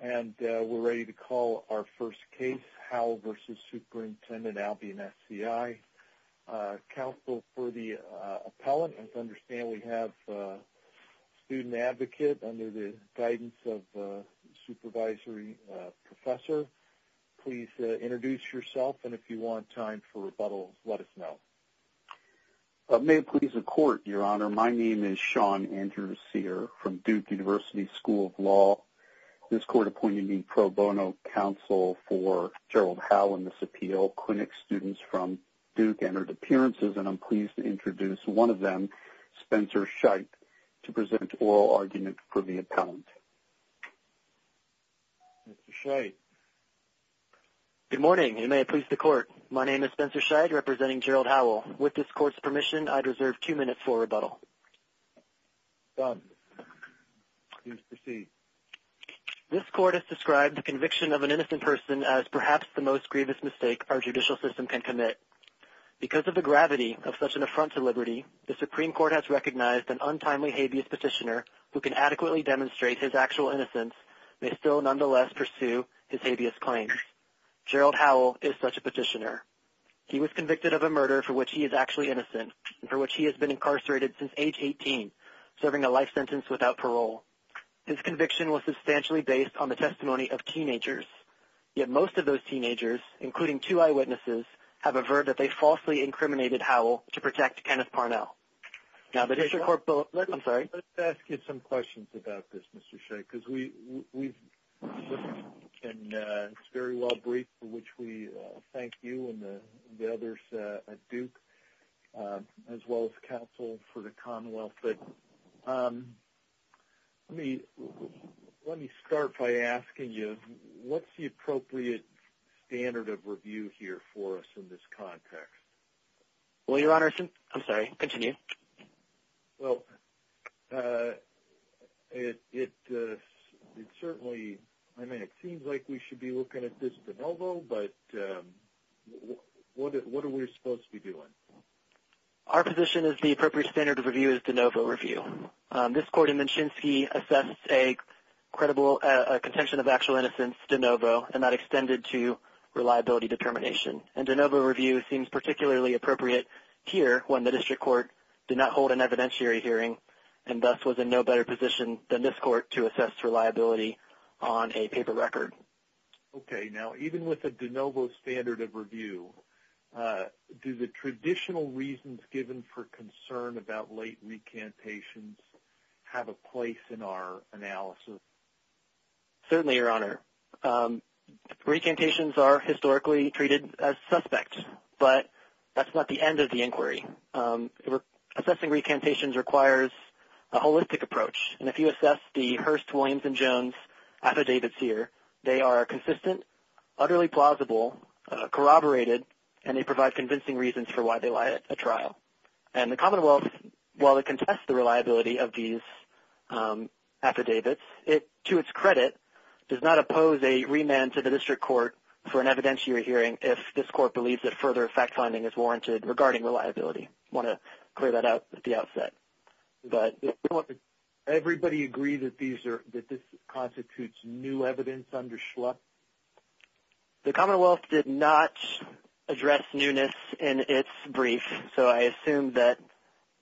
And we're ready to call our first case Howell v. Superintendent Albion SCI. Counsel for the appellant, as I understand we have a student advocate under the guidance of the supervisory professor. Please introduce yourself and if you want time for rebuttal, let us know. May it please the court, Your Honor, my name is Sean Andrew Sear from Duke University School of Law. This court appointed me pro bono counsel for Gerald Howell in this appeal. Clinic students from Duke entered appearances and I'm pleased to introduce one of them, Spencer Scheidt, to present oral argument for the appellant. Mr. Scheidt. Good morning, and may it please the court. My name is Spencer Scheidt representing Gerald Howell. With this court's permission, I'd reserve two minutes for rebuttal. This court has described the conviction of an innocent person as perhaps the most grievous mistake our judicial system can commit. Because of the gravity of such an affront to liberty, the Supreme Court has recognized an untimely habeas petitioner who can adequately demonstrate his actual innocence may still nonetheless pursue his habeas claims. Gerald Howell is such a for which he is actually innocent, for which he has been incarcerated since age 18, serving a life sentence without parole. His conviction was substantially based on the testimony of teenagers. Yet most of those teenagers, including two eyewitnesses, have averred that they falsely incriminated Howell to protect Kenneth Parnell. I'm sorry, let's get some questions about this, Mr. Scheidt, because we have a very well briefed, for which we thank you and the others at Duke, as well as counsel for the Commonwealth. But let me start by asking you, what's the appropriate standard of review here for us in this context? Well, Your Honor, I'm sorry, continue. Well, it certainly, I mean, it seems like we should be looking at this de novo, but what are we supposed to be doing? Our position is the appropriate standard of review is de novo review. This court in Minshinsky assesses a credible contention of actual innocence de novo and not extended to reliability determination. And de novo review seems particularly appropriate here when the district court did not hold an evidentiary hearing and thus was in no better position than this court to assess reliability on a paper record. Okay. Now, even with a de novo standard of review, do the traditional reasons given for concern about late recantations have a place in our analysis? Certainly, Your Honor. Recantations are historically treated as suspect, but that's not the end of the inquiry. Assessing recantations requires a holistic approach. And if you assess the Hearst, Williams, and Jones affidavits here, they are consistent, utterly plausible, corroborated, and they provide convincing reasons for why they lie at a trial. And the Commonwealth, while it contests the reliability of these affidavits, it, to its credit, does not oppose a remand to the district court for an evidentiary hearing if this court believes that further fact-finding is warranted regarding reliability. I want to clear that out at the outset. Everybody agree that this constitutes new evidence under Schlupf? The Commonwealth did not address newness in its brief, so I assume that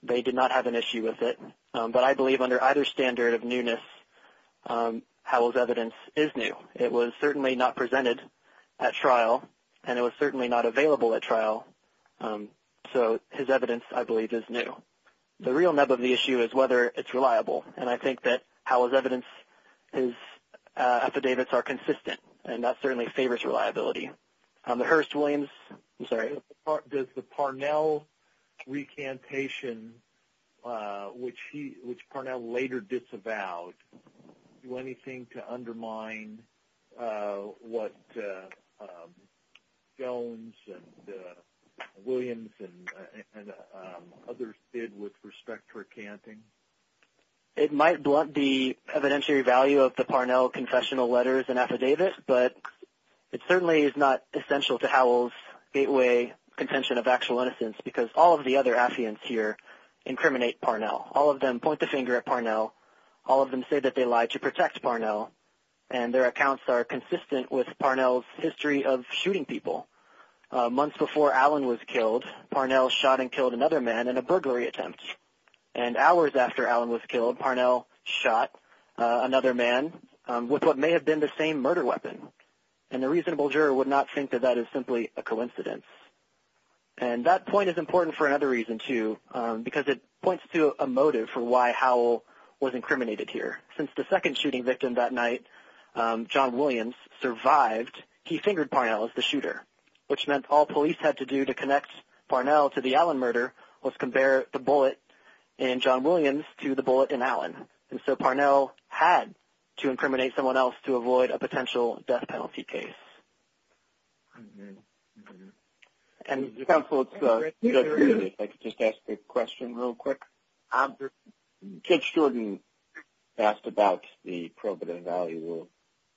they did not have an issue with it. But I believe under either standard of newness, Howell's evidence is new. It was certainly not presented at trial, and it was certainly not available at trial, so his evidence, I believe, is new. The real nub of the issue is whether it's reliable, and I think that Howell's evidence, his affidavits, are consistent, and that certainly favors reliability. The Hearst, Williams? I'm sorry? Does the Parnell recantation, which Parnell later disavowed, do anything to undermine what Jones and Williams and others did with respect to recanting? It might blunt the evidentiary value of the Parnell confessional letters and affidavits, but it certainly is not essential to Howell's gateway contention of actual innocence because all of the other affiants here incriminate Parnell. All of them point the finger at Parnell. All of them say that they lied to protect Parnell, and their accounts are consistent with Parnell's history of shooting people. Months before Allen was killed, Parnell shot and killed another man in a burglary attempt, and hours after Allen was killed, Parnell shot another man with what may have been the same murder weapon, and a reasonable juror would not think that that is simply a coincidence. And that point is important for another reason, too, because it points to a possibility that Parnell was incriminated here. Since the second shooting victim that night, John Williams, survived, he fingered Parnell as the shooter, which meant all police had to do to connect Parnell to the Allen murder was compare the bullet in John Williams to the bullet in Allen, and so Parnell had to incriminate someone else to avoid a potential death penalty case. And counsel, if I could just ask a question real quick. Judge Jordan asked about the probative value of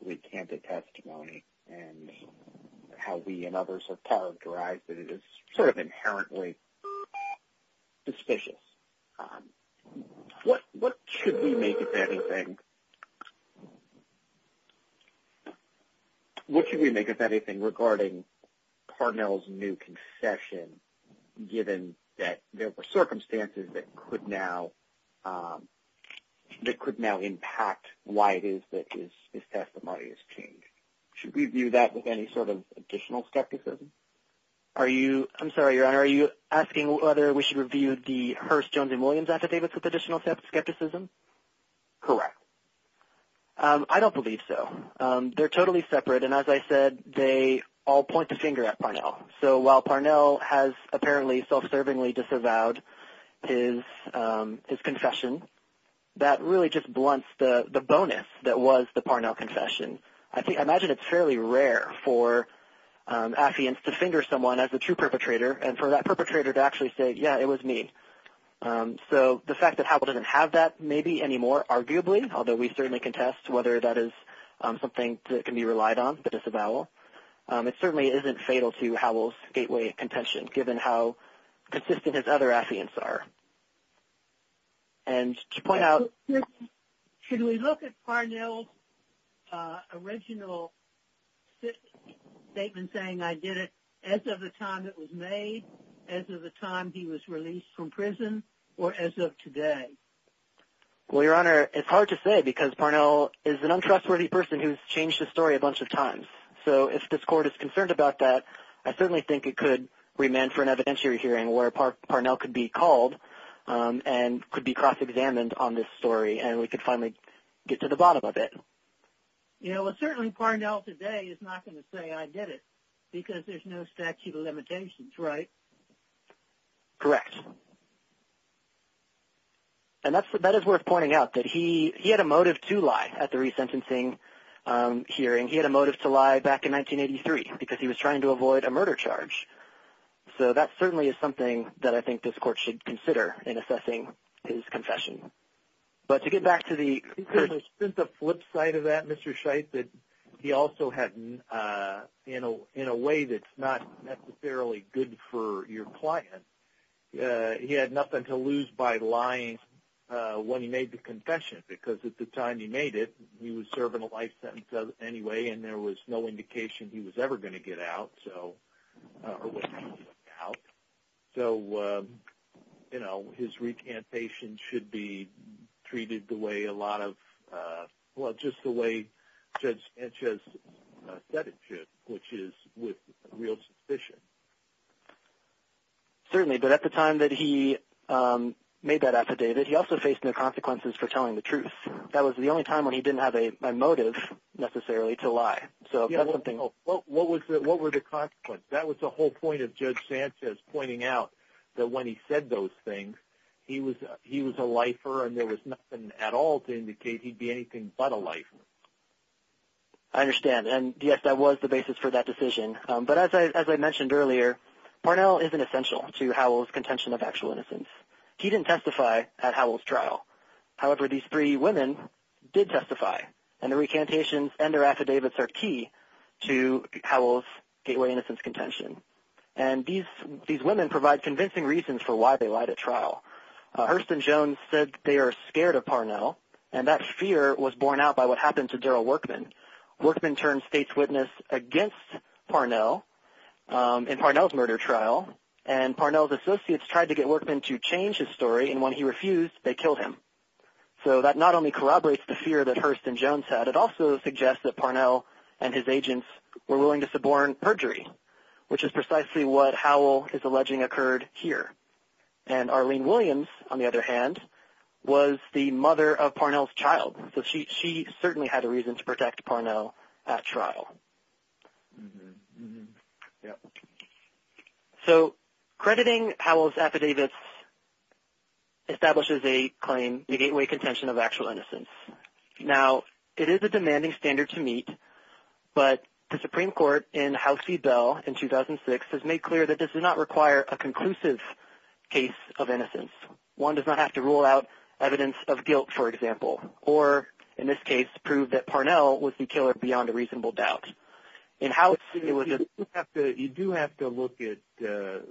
recanted testimony, and how we and others have characterized that it is sort of inherently suspicious. What should we make of anything regarding Parnell's new confession, given that there were circumstances that could now impact why it is that his testimony has changed? Should we view that with any sort of additional skepticism? I'm sorry, Your Honor, are you asking whether we should review the Hearst-Jones and Williams affidavits with additional skepticism? Correct. I don't believe so. They're totally separate, and as I said, they all point the finger at Parnell. So while Parnell has apparently self-servingly disavowed his confession, that really just blunts the bonus that was the Parnell confession. I imagine it's fairly rare for affiants to finger someone as a true perpetrator, and for that perpetrator to actually say, yeah, it was me. So the fact that Howell doesn't have that maybe anymore, arguably, although we certainly contest whether that is something that can be relied on to disavow, it certainly isn't fatal to Howell's gateway contention, given how consistent his other affiants are. And to point out... Should we look at Parnell's original statement saying, I did it as of the time it was made, as of the time he was released from prison, or as of today? Well, Your Honor, it's hard to say, because Parnell is an untrustworthy person who's changed the story a bunch of times. So if this Court is concerned about that, I certainly think it could remand for an evidentiary hearing where Parnell could be called and could be cross-examined on this story, and we could finally get to the bottom of it. Yeah, well, certainly Parnell today is not going to say, I did it, because there's no statute of limitations, right? Correct. And that is worth pointing out, that he had a motive to lie at the resentencing hearing. He had a motive to lie back in 1983, because he was trying to avoid a murder charge. So that certainly is something that I think this Court should consider in assessing his confession. But to get back to the... There's been the flip side of that, Mr. Scheidt, that he also had, in a way that's not necessarily good for your client, he had nothing to lose by lying when he made the confession, because at the time he made it, he was serving a life sentence anyway, and there was no indication he was ever going to get out. So, you know, his recantation should be treated the way a lot of... Well, just the way Judge Enchez said it should, which is with real suspicion. Certainly, but at the time that he made that affidavit, he also faced no to lie. What were the consequences? That was the whole point of Judge Enchez pointing out that when he said those things, he was a lifer and there was nothing at all to indicate he'd be anything but a lifer. I understand, and yes, that was the basis for that decision. But as I mentioned earlier, Parnell isn't essential to Howell's contention of actual innocence. He didn't testify at Howell's trial. However, these three women did testify, and the recantations and their affidavits are key to Howell's gateway innocence contention, and these women provide convincing reasons for why they lied at trial. Hurston Jones said they are scared of Parnell, and that fear was borne out by what happened to Daryl Workman. Workman turned state's witness against Parnell in Parnell's murder trial, and Parnell's associates tried to get Workman to change his story, and when he refused, they killed him. So that not only corroborates the fear that Hurston Jones had, it also suggests that Parnell and his agents were willing to suborn perjury, which is precisely what Howell is alleging occurred here. And Arlene Williams, on the other hand, was the mother of Parnell's child, so she certainly had a reason to protect Parnell at trial. So crediting Howell's affidavits establishes a claim, a gateway contention of actual innocence. Now, it is a demanding standard to meet, but the Supreme Court in House v. Bell in 2006 has made clear that this does not require a conclusive case of innocence. One does not have to rule out evidence of guilt, for example, or, in this case, prove that Parnell was the killer beyond a reasonable doubt. In Howell's... You do have to look at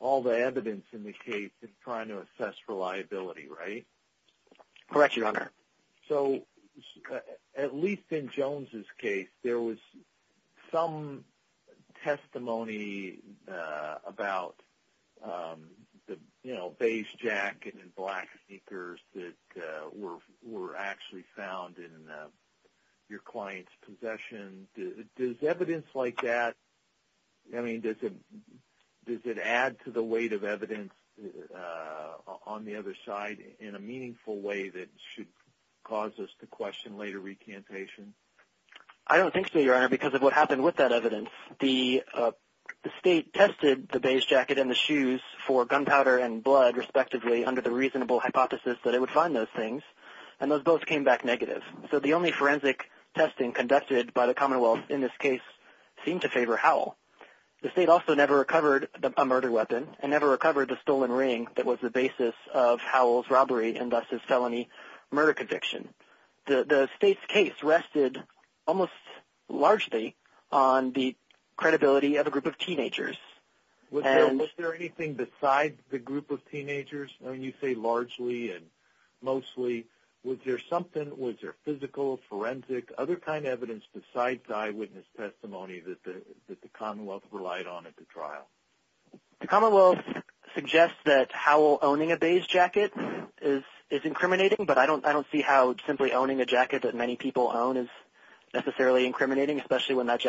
all the evidence in the case in trying to assess reliability, right? Correct you, Your Honor. So, at least in Jones's case, there was some testimony about the, you know, beige jacket and black sneakers that were actually found in your client's possession. Does evidence like that, I mean, does it add to the weight of evidence on the other side in a meaningful way that should cause us to question later recantation? I don't think so, Your Honor, because of what happened with that evidence. The state tested the beige jacket and the shoes for gunpowder and blood, respectively, under the reasonable hypothesis that it would find those things, and those both came back negative. So, the only forensic testing conducted by the Commonwealth in this case seemed to favor Howell. The state also never recovered a murder weapon and never recovered the stolen ring that was the basis of Howell's robbery and, thus, his felony murder conviction. The state's case rested almost largely on the Was there anything besides the group of teenagers? I mean, you say largely and mostly. Was there something, was there physical, forensic, other kind of evidence besides eyewitness testimony that the Commonwealth relied on at the trial? The Commonwealth suggests that Howell owning a beige jacket is incriminating, but I don't see how simply owning a jacket that many people own is necessarily incriminating, especially when that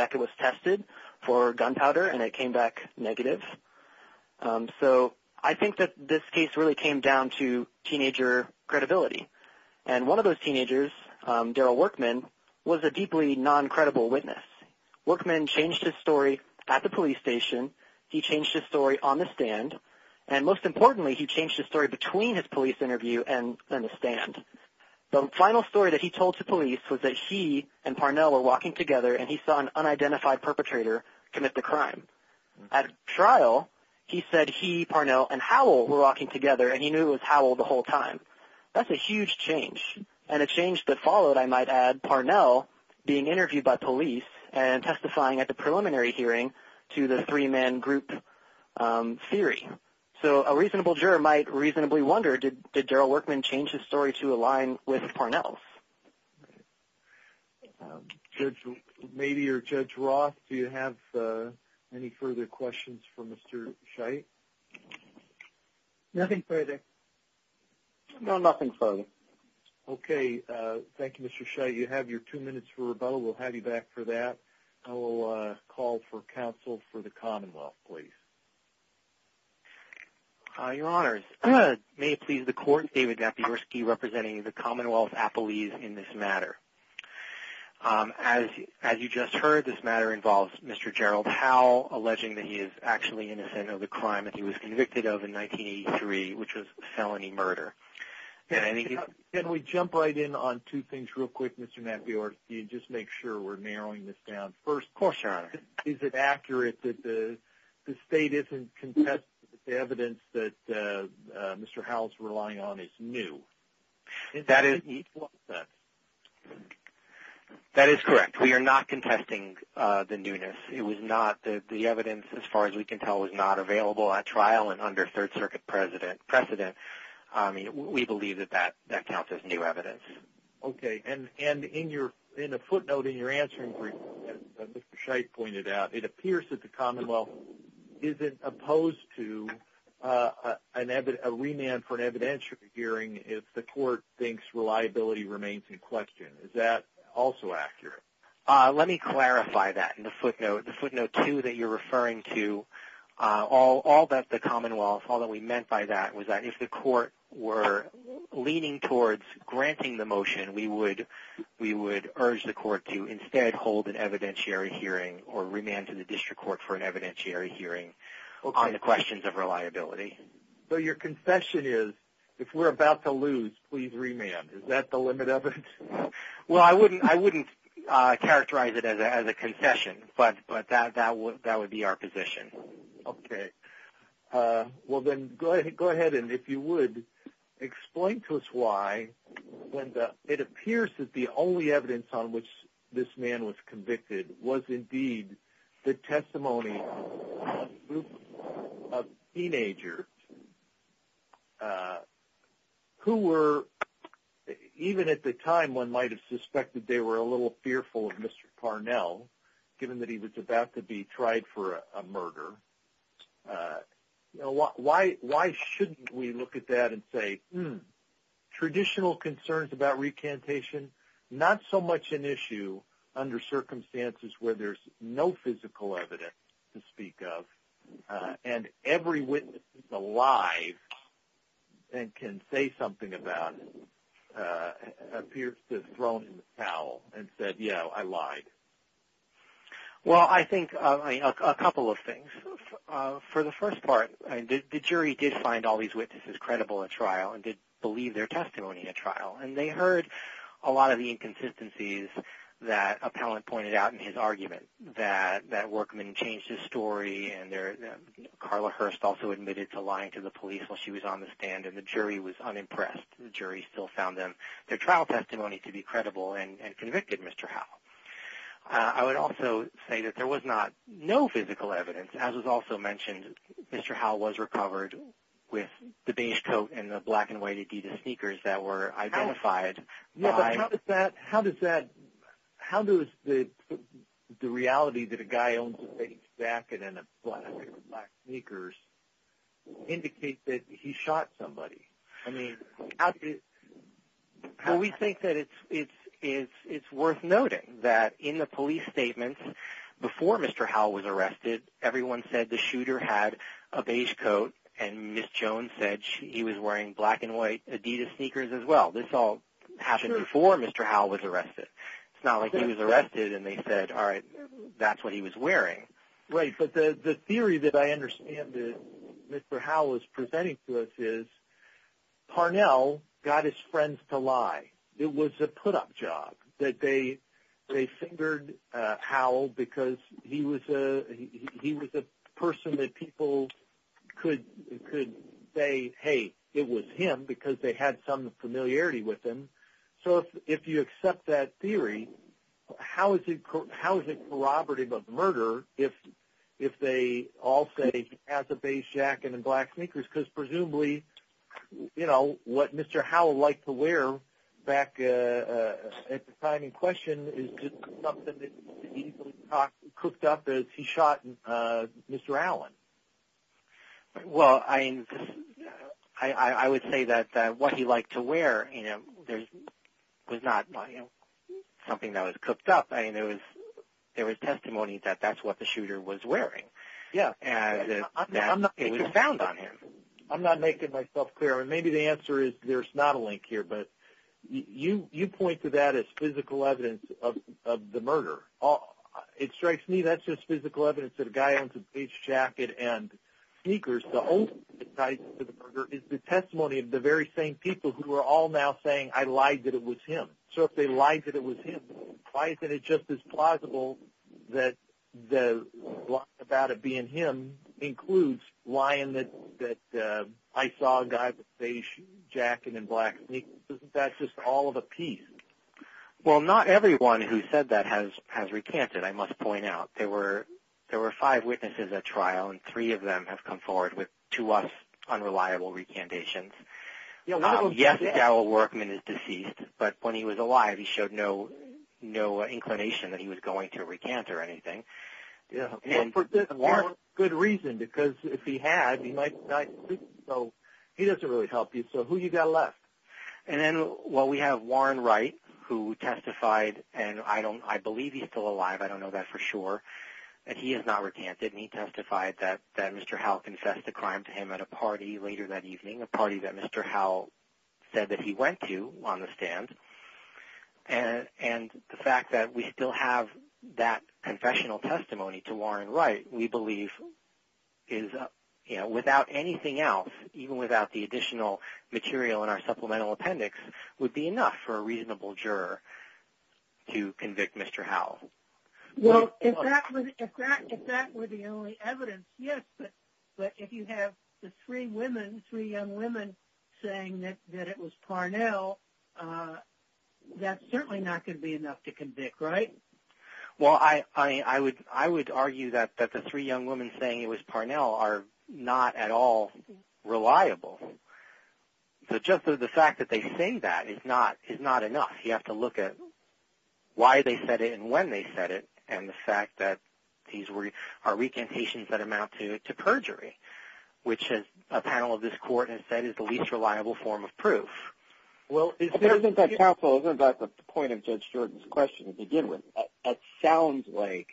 So, I think that this case really came down to teenager credibility, and one of those teenagers, Daryl Workman, was a deeply non-credible witness. Workman changed his story at the police station, he changed his story on the stand, and, most importantly, he changed his story between his police interview and the stand. The final story that he told to police was that he and Parnell were walking together and he saw an unidentified perpetrator commit the crime. At trial, he said he, Parnell, and Howell were walking together and he knew it was Howell the whole time. That's a huge change, and a change that followed, I might add, Parnell being interviewed by police and testifying at the preliminary hearing to the three-man group theory. So, a reasonable juror might reasonably wonder, did Daryl Workman change his story to align with Parnell's? Judge Mabee or Judge Roth, do you have any further questions for Mr. Scheidt? Nothing further. No, nothing further. Okay, thank you, Mr. Scheidt. You have your two minutes for rebuttal. We'll have you back for that. I will call for counsel for the Commonwealth, please. Your Honor, may it please the Court, David Mabeeorski representing the Commonwealth Appellees in this matter. As you just heard, this matter involves Mr. Gerald Howell alleging that he is actually innocent of the crime that he was convicted of in 1983, which was felony murder. Can we jump right in on two things real quick, Mr. Mabeeorski, and just make sure we're narrowing this down first. Of course, Your Honor. Is it accurate that the state isn't contesting the evidence that Mr. Howell's relying on is new? That is correct. We are not contesting the newness. It was not that the evidence, as far as we can tell, was not available at trial and under Third Circuit precedent. We believe that that counts as new evidence. Okay, and in a footnote in your answer, as Mr. Scheidt pointed out, it appears that the Commonwealth isn't opposed to a remand for an evidentiary hearing if the Court thinks reliability remains in question. Is that also accurate? Let me clarify that in the footnote. The footnote two that you're referring to, all that the Commonwealth, all that we meant by that was that if the Court were leaning towards granting the motion, we would urge the Court to instead hold an evidentiary hearing or remand to the District Court for an evidentiary hearing on the questions of reliability. So your confession is, if we're about to lose, please remand. Is that the limit of it? Well, I wouldn't characterize it as a confession, but that would be our position. Okay. Well then, go ahead, and if you would, explain to us why, when it appears that the only evidence on which this man was convicted was indeed the testimony of a group of teenagers who were, even at the time, one might have suspected they were a little fearful of Mr. Parnell, given that he was about to be tried for a murder. Why shouldn't we look at that and say, hmm, traditional concerns about recantation, not so much an issue under circumstances where there's no physical evidence to speak of, and every witness that's alive and can say something about it appears to have thrown in the towel and said, you know, I lied? Well, I think a couple of things. For the first part, the jury did find all these witnesses credible at trial and did believe their testimony at trial, and they heard a lot of the inconsistencies that Appellant pointed out in his argument, that Workman changed his story, and Carla Hurst also admitted to lying to the police while she was on the stand, and the jury was unimpressed. The jury still found their trial testimony to be credible and convicted Mr. Howe. I would also say that there was no physical evidence. As was also mentioned, Mr. Howe was recovered with the beige coat and the black and white Adidas sneakers that were identified. How does the reality that a guy owns a beige jacket and a pair of black sneakers indicate that he shot somebody? We think that it's worth noting that in the police statements before Mr. Howe was arrested, everyone said the shooter had a beige coat, and Ms. Jones said he was wearing black and white Adidas sneakers as well. This all happened before Mr. Howe was arrested. It's not like he was arrested and they said, all right, that's what he was wearing. But the theory that I understand that Mr. Howe is presenting to us is that Parnell got his friends to lie. It was a put-up job. They fingered Howe because he was a person that people could say, hey, it was him because they had some familiarity with him. If you accept that theory, how is it corroborative of murder if they all say he has a beige jacket and black sneakers? Presumably, what Mr. Howe liked to wear back at the time in question is just something that he easily cooked up as he shot Mr. Allen. I would say that what he liked to wear was not something that was testimony that that's what the shooter was wearing. It was found on him. I'm not making myself clear. Maybe the answer is there's not a link here, but you point to that as physical evidence of the murder. It strikes me that's just physical evidence that a guy owns a beige jacket and sneakers. The testimony of the very same people who are all now saying I lied that it was him. Why is it just as plausible that the lie about it being him includes lying that I saw a guy with a beige jacket and black sneakers? That's just all of a piece. Well, not everyone who said that has recanted, I must point out. There were five witnesses at trial, and three of them have come forward with, to us, unreliable recantations. Yes, Daryl Workman is deceased, but when he was no inclination that he was going to recant or anything. For good reason, because if he had, he doesn't really help you, so who you got left? We have Warren Wright who testified, and I believe he's still alive, I don't know that for sure, that he has not recanted. He testified that Mr. Howell confessed the crime to him at a party later that evening, a party that Mr. Howell said that he and the fact that we still have that confessional testimony to Warren Wright, we believe is, you know, without anything else, even without the additional material in our supplemental appendix, would be enough for a reasonable juror to convict Mr. Howell. Well, if that were the only evidence, yes, but if you have the three women, three young women, saying that it was Parnell, uh, that's certainly not going to be enough to convict, right? Well, I would argue that the three young women saying it was Parnell are not at all reliable, so just the fact that they say that is not enough. You have to look at why they said it and when they said it, and the fact that these are recantations that amount to perjury, which a panel of this court has said is the least possible, isn't that the point of Judge Jordan's question to begin with? That sounds like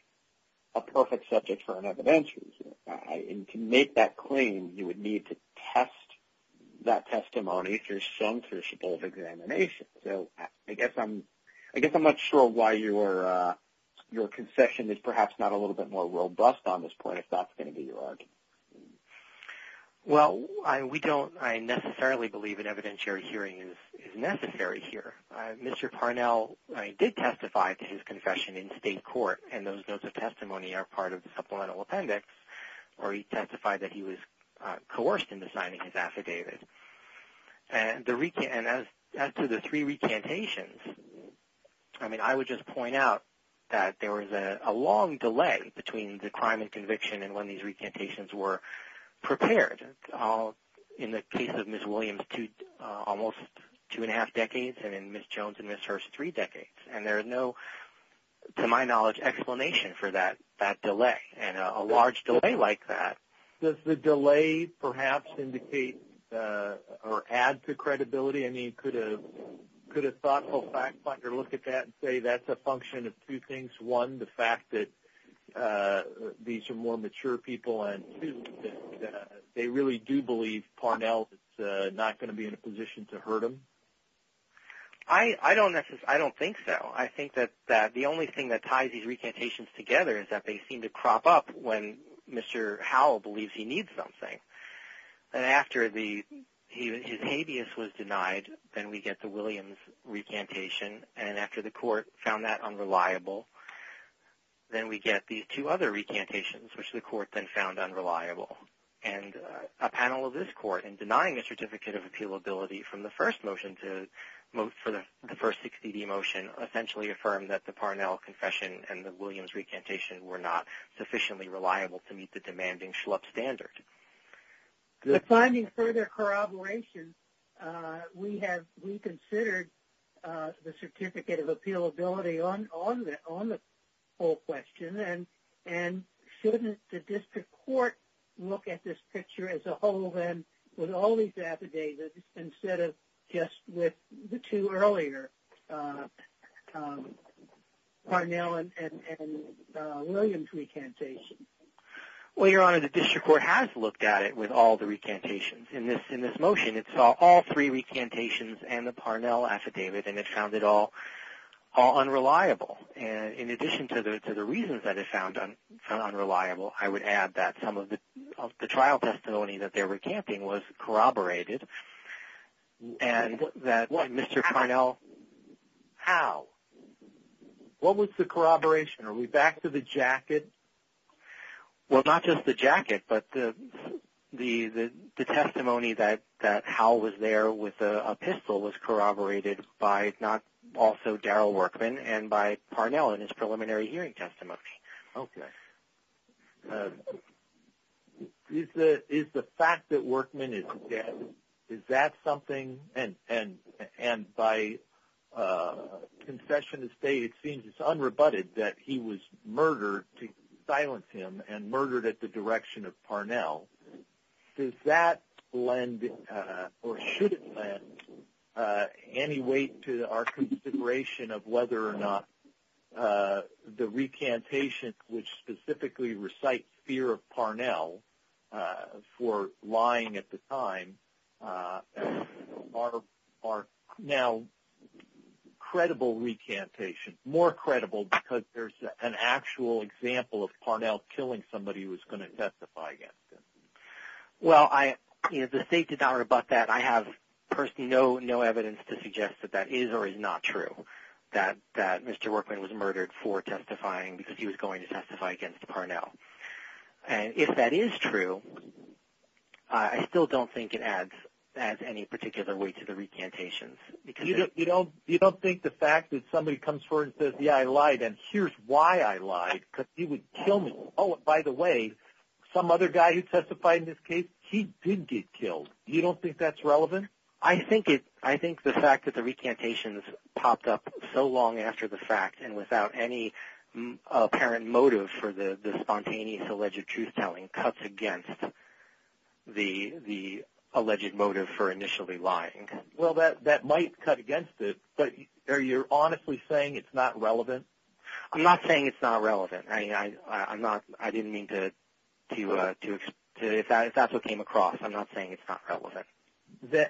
a perfect subject for an evidentiary hearing, and to make that claim, you would need to test that testimony if you're censorship of examination, so I guess I'm, I guess I'm not sure why your, uh, your concession is perhaps not a little bit more robust on this point, if that's going to be your argument. Well, I, we don't, I necessarily believe an evidentiary hearing is, is necessary here. Mr. Parnell, I did testify to his confession in state court, and those notes of testimony are part of the supplemental appendix, or he testified that he was, uh, coerced into signing his affidavit, and the recant, and as to the three recantations, I mean, I would just point out that there was a long delay between the crime and conviction and when these recantations were prepared. In the case of Ms. Williams, two, uh, almost two and a half decades, and in Ms. Jones and Ms. Hearst, three decades, and there is no, to my knowledge, explanation for that, that delay, and a large delay like that. Does the delay perhaps indicate, uh, or add to credibility? I mean, could a, could a thoughtful fact finder look at that and say that's a function of two and a half decades, that, uh, these are more mature people and, uh, they really do believe Parnell is, uh, not going to be in a position to hurt him? I, I don't necessarily, I don't think so. I think that, that the only thing that ties these recantations together is that they seem to crop up when Mr. Howell believes he needs something, and after the, his habeas was denied, then we get the Williams recantation, and after the court found that unreliable, then we get these two other recantations, which the court then found unreliable. And, uh, a panel of this court, in denying the Certificate of Appealability from the first motion to, for the first 6th ED motion, essentially affirmed that the Parnell confession and the Williams recantation were not sufficiently reliable to meet the demanding Schlupp standard. The finding further corroboration, uh, we have reconsidered, uh, the Certificate of Appealability on, on the, on the whole question, and, and shouldn't the district court look at this picture as a whole then with all these affidavits instead of just with the two earlier, uh, um, Parnell and, and, and, uh, Williams recantation? Well, Your Honor, the district court has looked at it with all the recantations. In this, in this motion, it saw all three recantations and the Parnell affidavit, and it found it all, all unreliable. And in addition to the, to the reasons that it found unreliable, I would add that some of the, of the trial testimony that they're recanting was corroborated, and that Mr. Parnell, how? What was the corroboration? Are we back to the jacket? Well, not just the jacket, but the, the, the testimony that, that Howell was there with a, a pistol was corroborated by not, also Darrell Workman and by Parnell in his preliminary hearing testimony. Okay. Is the, is the fact that Workman is dead, is that something, and, and, and by, uh, confession to state, it seems it's unrebutted that he was and murdered at the direction of Parnell. Does that lend, uh, or should it lend, uh, any weight to our consideration of whether or not, uh, the recantation, which specifically recites fear of Parnell, uh, for lying at the time, uh, are, are now credible recantation, more credible because there's an actual example of Parnell killing somebody who was going to testify against him? Well, I, you know, the state did not rebut that. I have personally no, no evidence to suggest that that is or is not true, that, that Mr. Workman was murdered for testifying because he was going to testify against Parnell. And if that is true, I still don't think it adds, adds any particular weight to the recantations. You don't, you don't think the fact that somebody comes forward and says, yeah, I lied and here's why I lied, because he would kill me. Oh, by the way, some other guy who testified in this case, he did get killed. You don't think that's relevant? I think it, I think the fact that the recantations popped up so long after the fact and without any apparent motive for the, the spontaneous alleged truth-telling cuts against the, the alleged motive for initially lying. Well, that, that might cut against it, but are you honestly saying it's not relevant? I'm not saying it's not relevant. I mean, I, I'm not, I didn't mean to, to, to, if that's what came across, I'm not saying it's not relevant.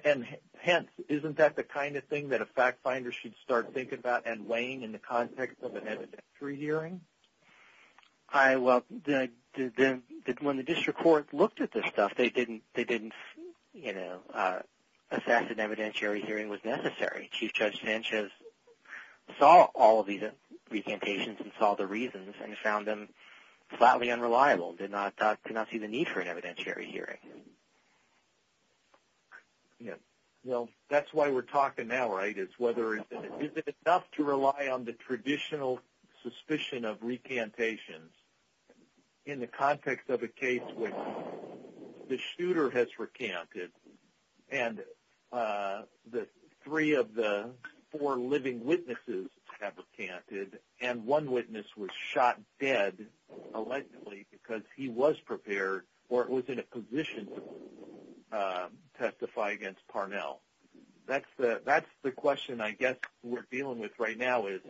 And hence, isn't that the kind of thing that a fact finder should start thinking about and weighing in the context of an evidentiary hearing? I, well, the, the, when the district court looked at this stuff, they didn't, they didn't, you know, assess an evidentiary hearing was necessary. Chief Judge Sanchez saw all of these recantations and saw the reasons and found them flatly unreliable, did not, did not see the need for an evidentiary hearing. Yeah. Well, that's why we're talking now, right, is whether, is it enough to rely on the traditional suspicion of recantations in the context of a case when the shooter has recanted and the three of the four living witnesses have recanted and one witness was shot dead allegedly because he was prepared or was in a position to testify against Parnell. That's the, that's the question I guess we're dealing with right now is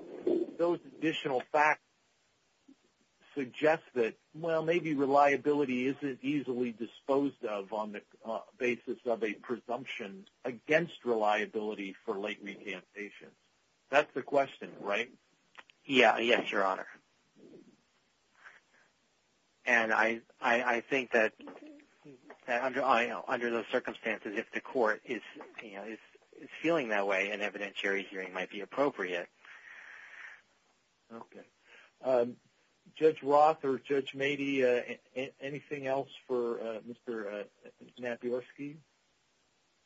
those additional facts suggest that, well, maybe reliability isn't easily disposed of on the basis of a presumption against reliability for late recantations. That's the question, right? Yeah. Yes, Your Honor. And I, I, I think that under, I know, under those circumstances, if the court is, you know, is feeling that way, an evidentiary hearing might be appropriate. Okay. Judge Roth or Judge Mady, anything else for Mr. Naborski?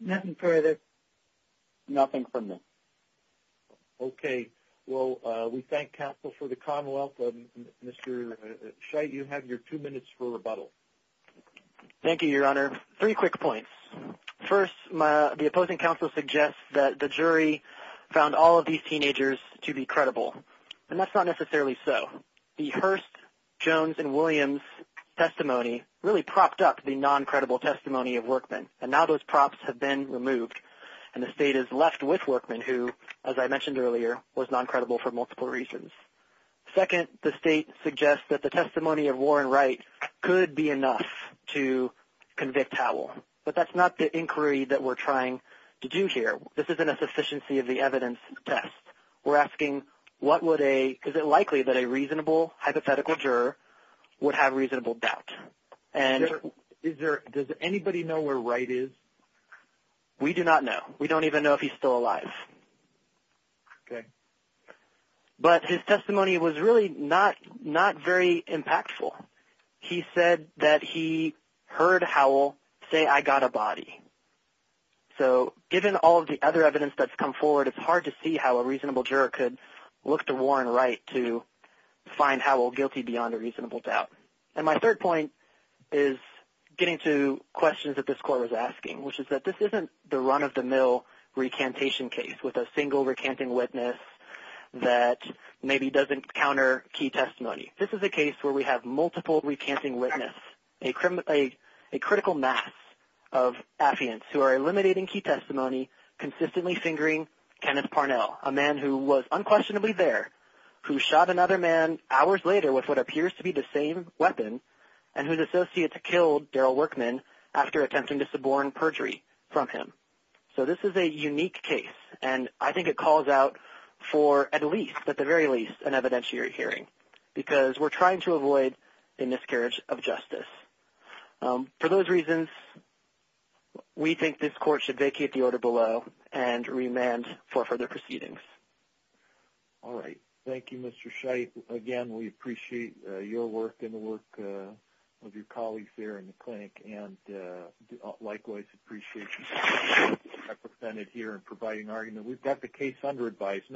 Nothing further. Nothing from them. Okay. Well, we thank counsel for the Commonwealth. Mr. Scheidt, you have your two minutes for rebuttal. Thank you, Your Honor. Three quick points. First, my, the opposing counsel suggests that the jury found all of these teenagers to be credible and that's not necessarily so. The Hearst, Jones, and Williams testimony really propped up the non-credible testimony of Workman and now those props have been removed and the state is non-credible for multiple reasons. Second, the state suggests that the testimony of Warren Wright could be enough to convict Howell, but that's not the inquiry that we're trying to do here. This isn't a sufficiency of the evidence test. We're asking what would a, is it likely that a reasonable hypothetical juror would have reasonable doubt? And is there, does anybody know where Wright is? We do not know. We don't even know if he's still alive. Okay. But his testimony was really not, not very impactful. He said that he heard Howell say, I got a body. So given all of the other evidence that's come forward, it's hard to see how a reasonable juror could look to Warren Wright to find Howell guilty beyond a reasonable doubt. And my third point is getting to questions that this court was asking, which is that this isn't the run-of-the-mill recantation case with a single recanting witness that maybe doesn't counter key testimony. This is a case where we have multiple recanting witnesses, a critical mass of affiants who are eliminating key testimony, consistently fingering Kenneth Parnell, a man who was unquestionably there, who shot another man hours later with what appears to be the same weapon, and whose associates killed Daryl Workman after attempting to suborn perjury from him. So this is a unique case, and I think it calls out for at least, at the very least, an evidentiary hearing, because we're trying to avoid a miscarriage of justice. For those reasons, we think this court should vacate the order below and remand for further proceedings. All right. Thank you, Mr. Scheidt. Again, we appreciate your work and the colleagues here in the clinic, and likewise appreciate you being represented here and providing argument. We've got the case under advisement.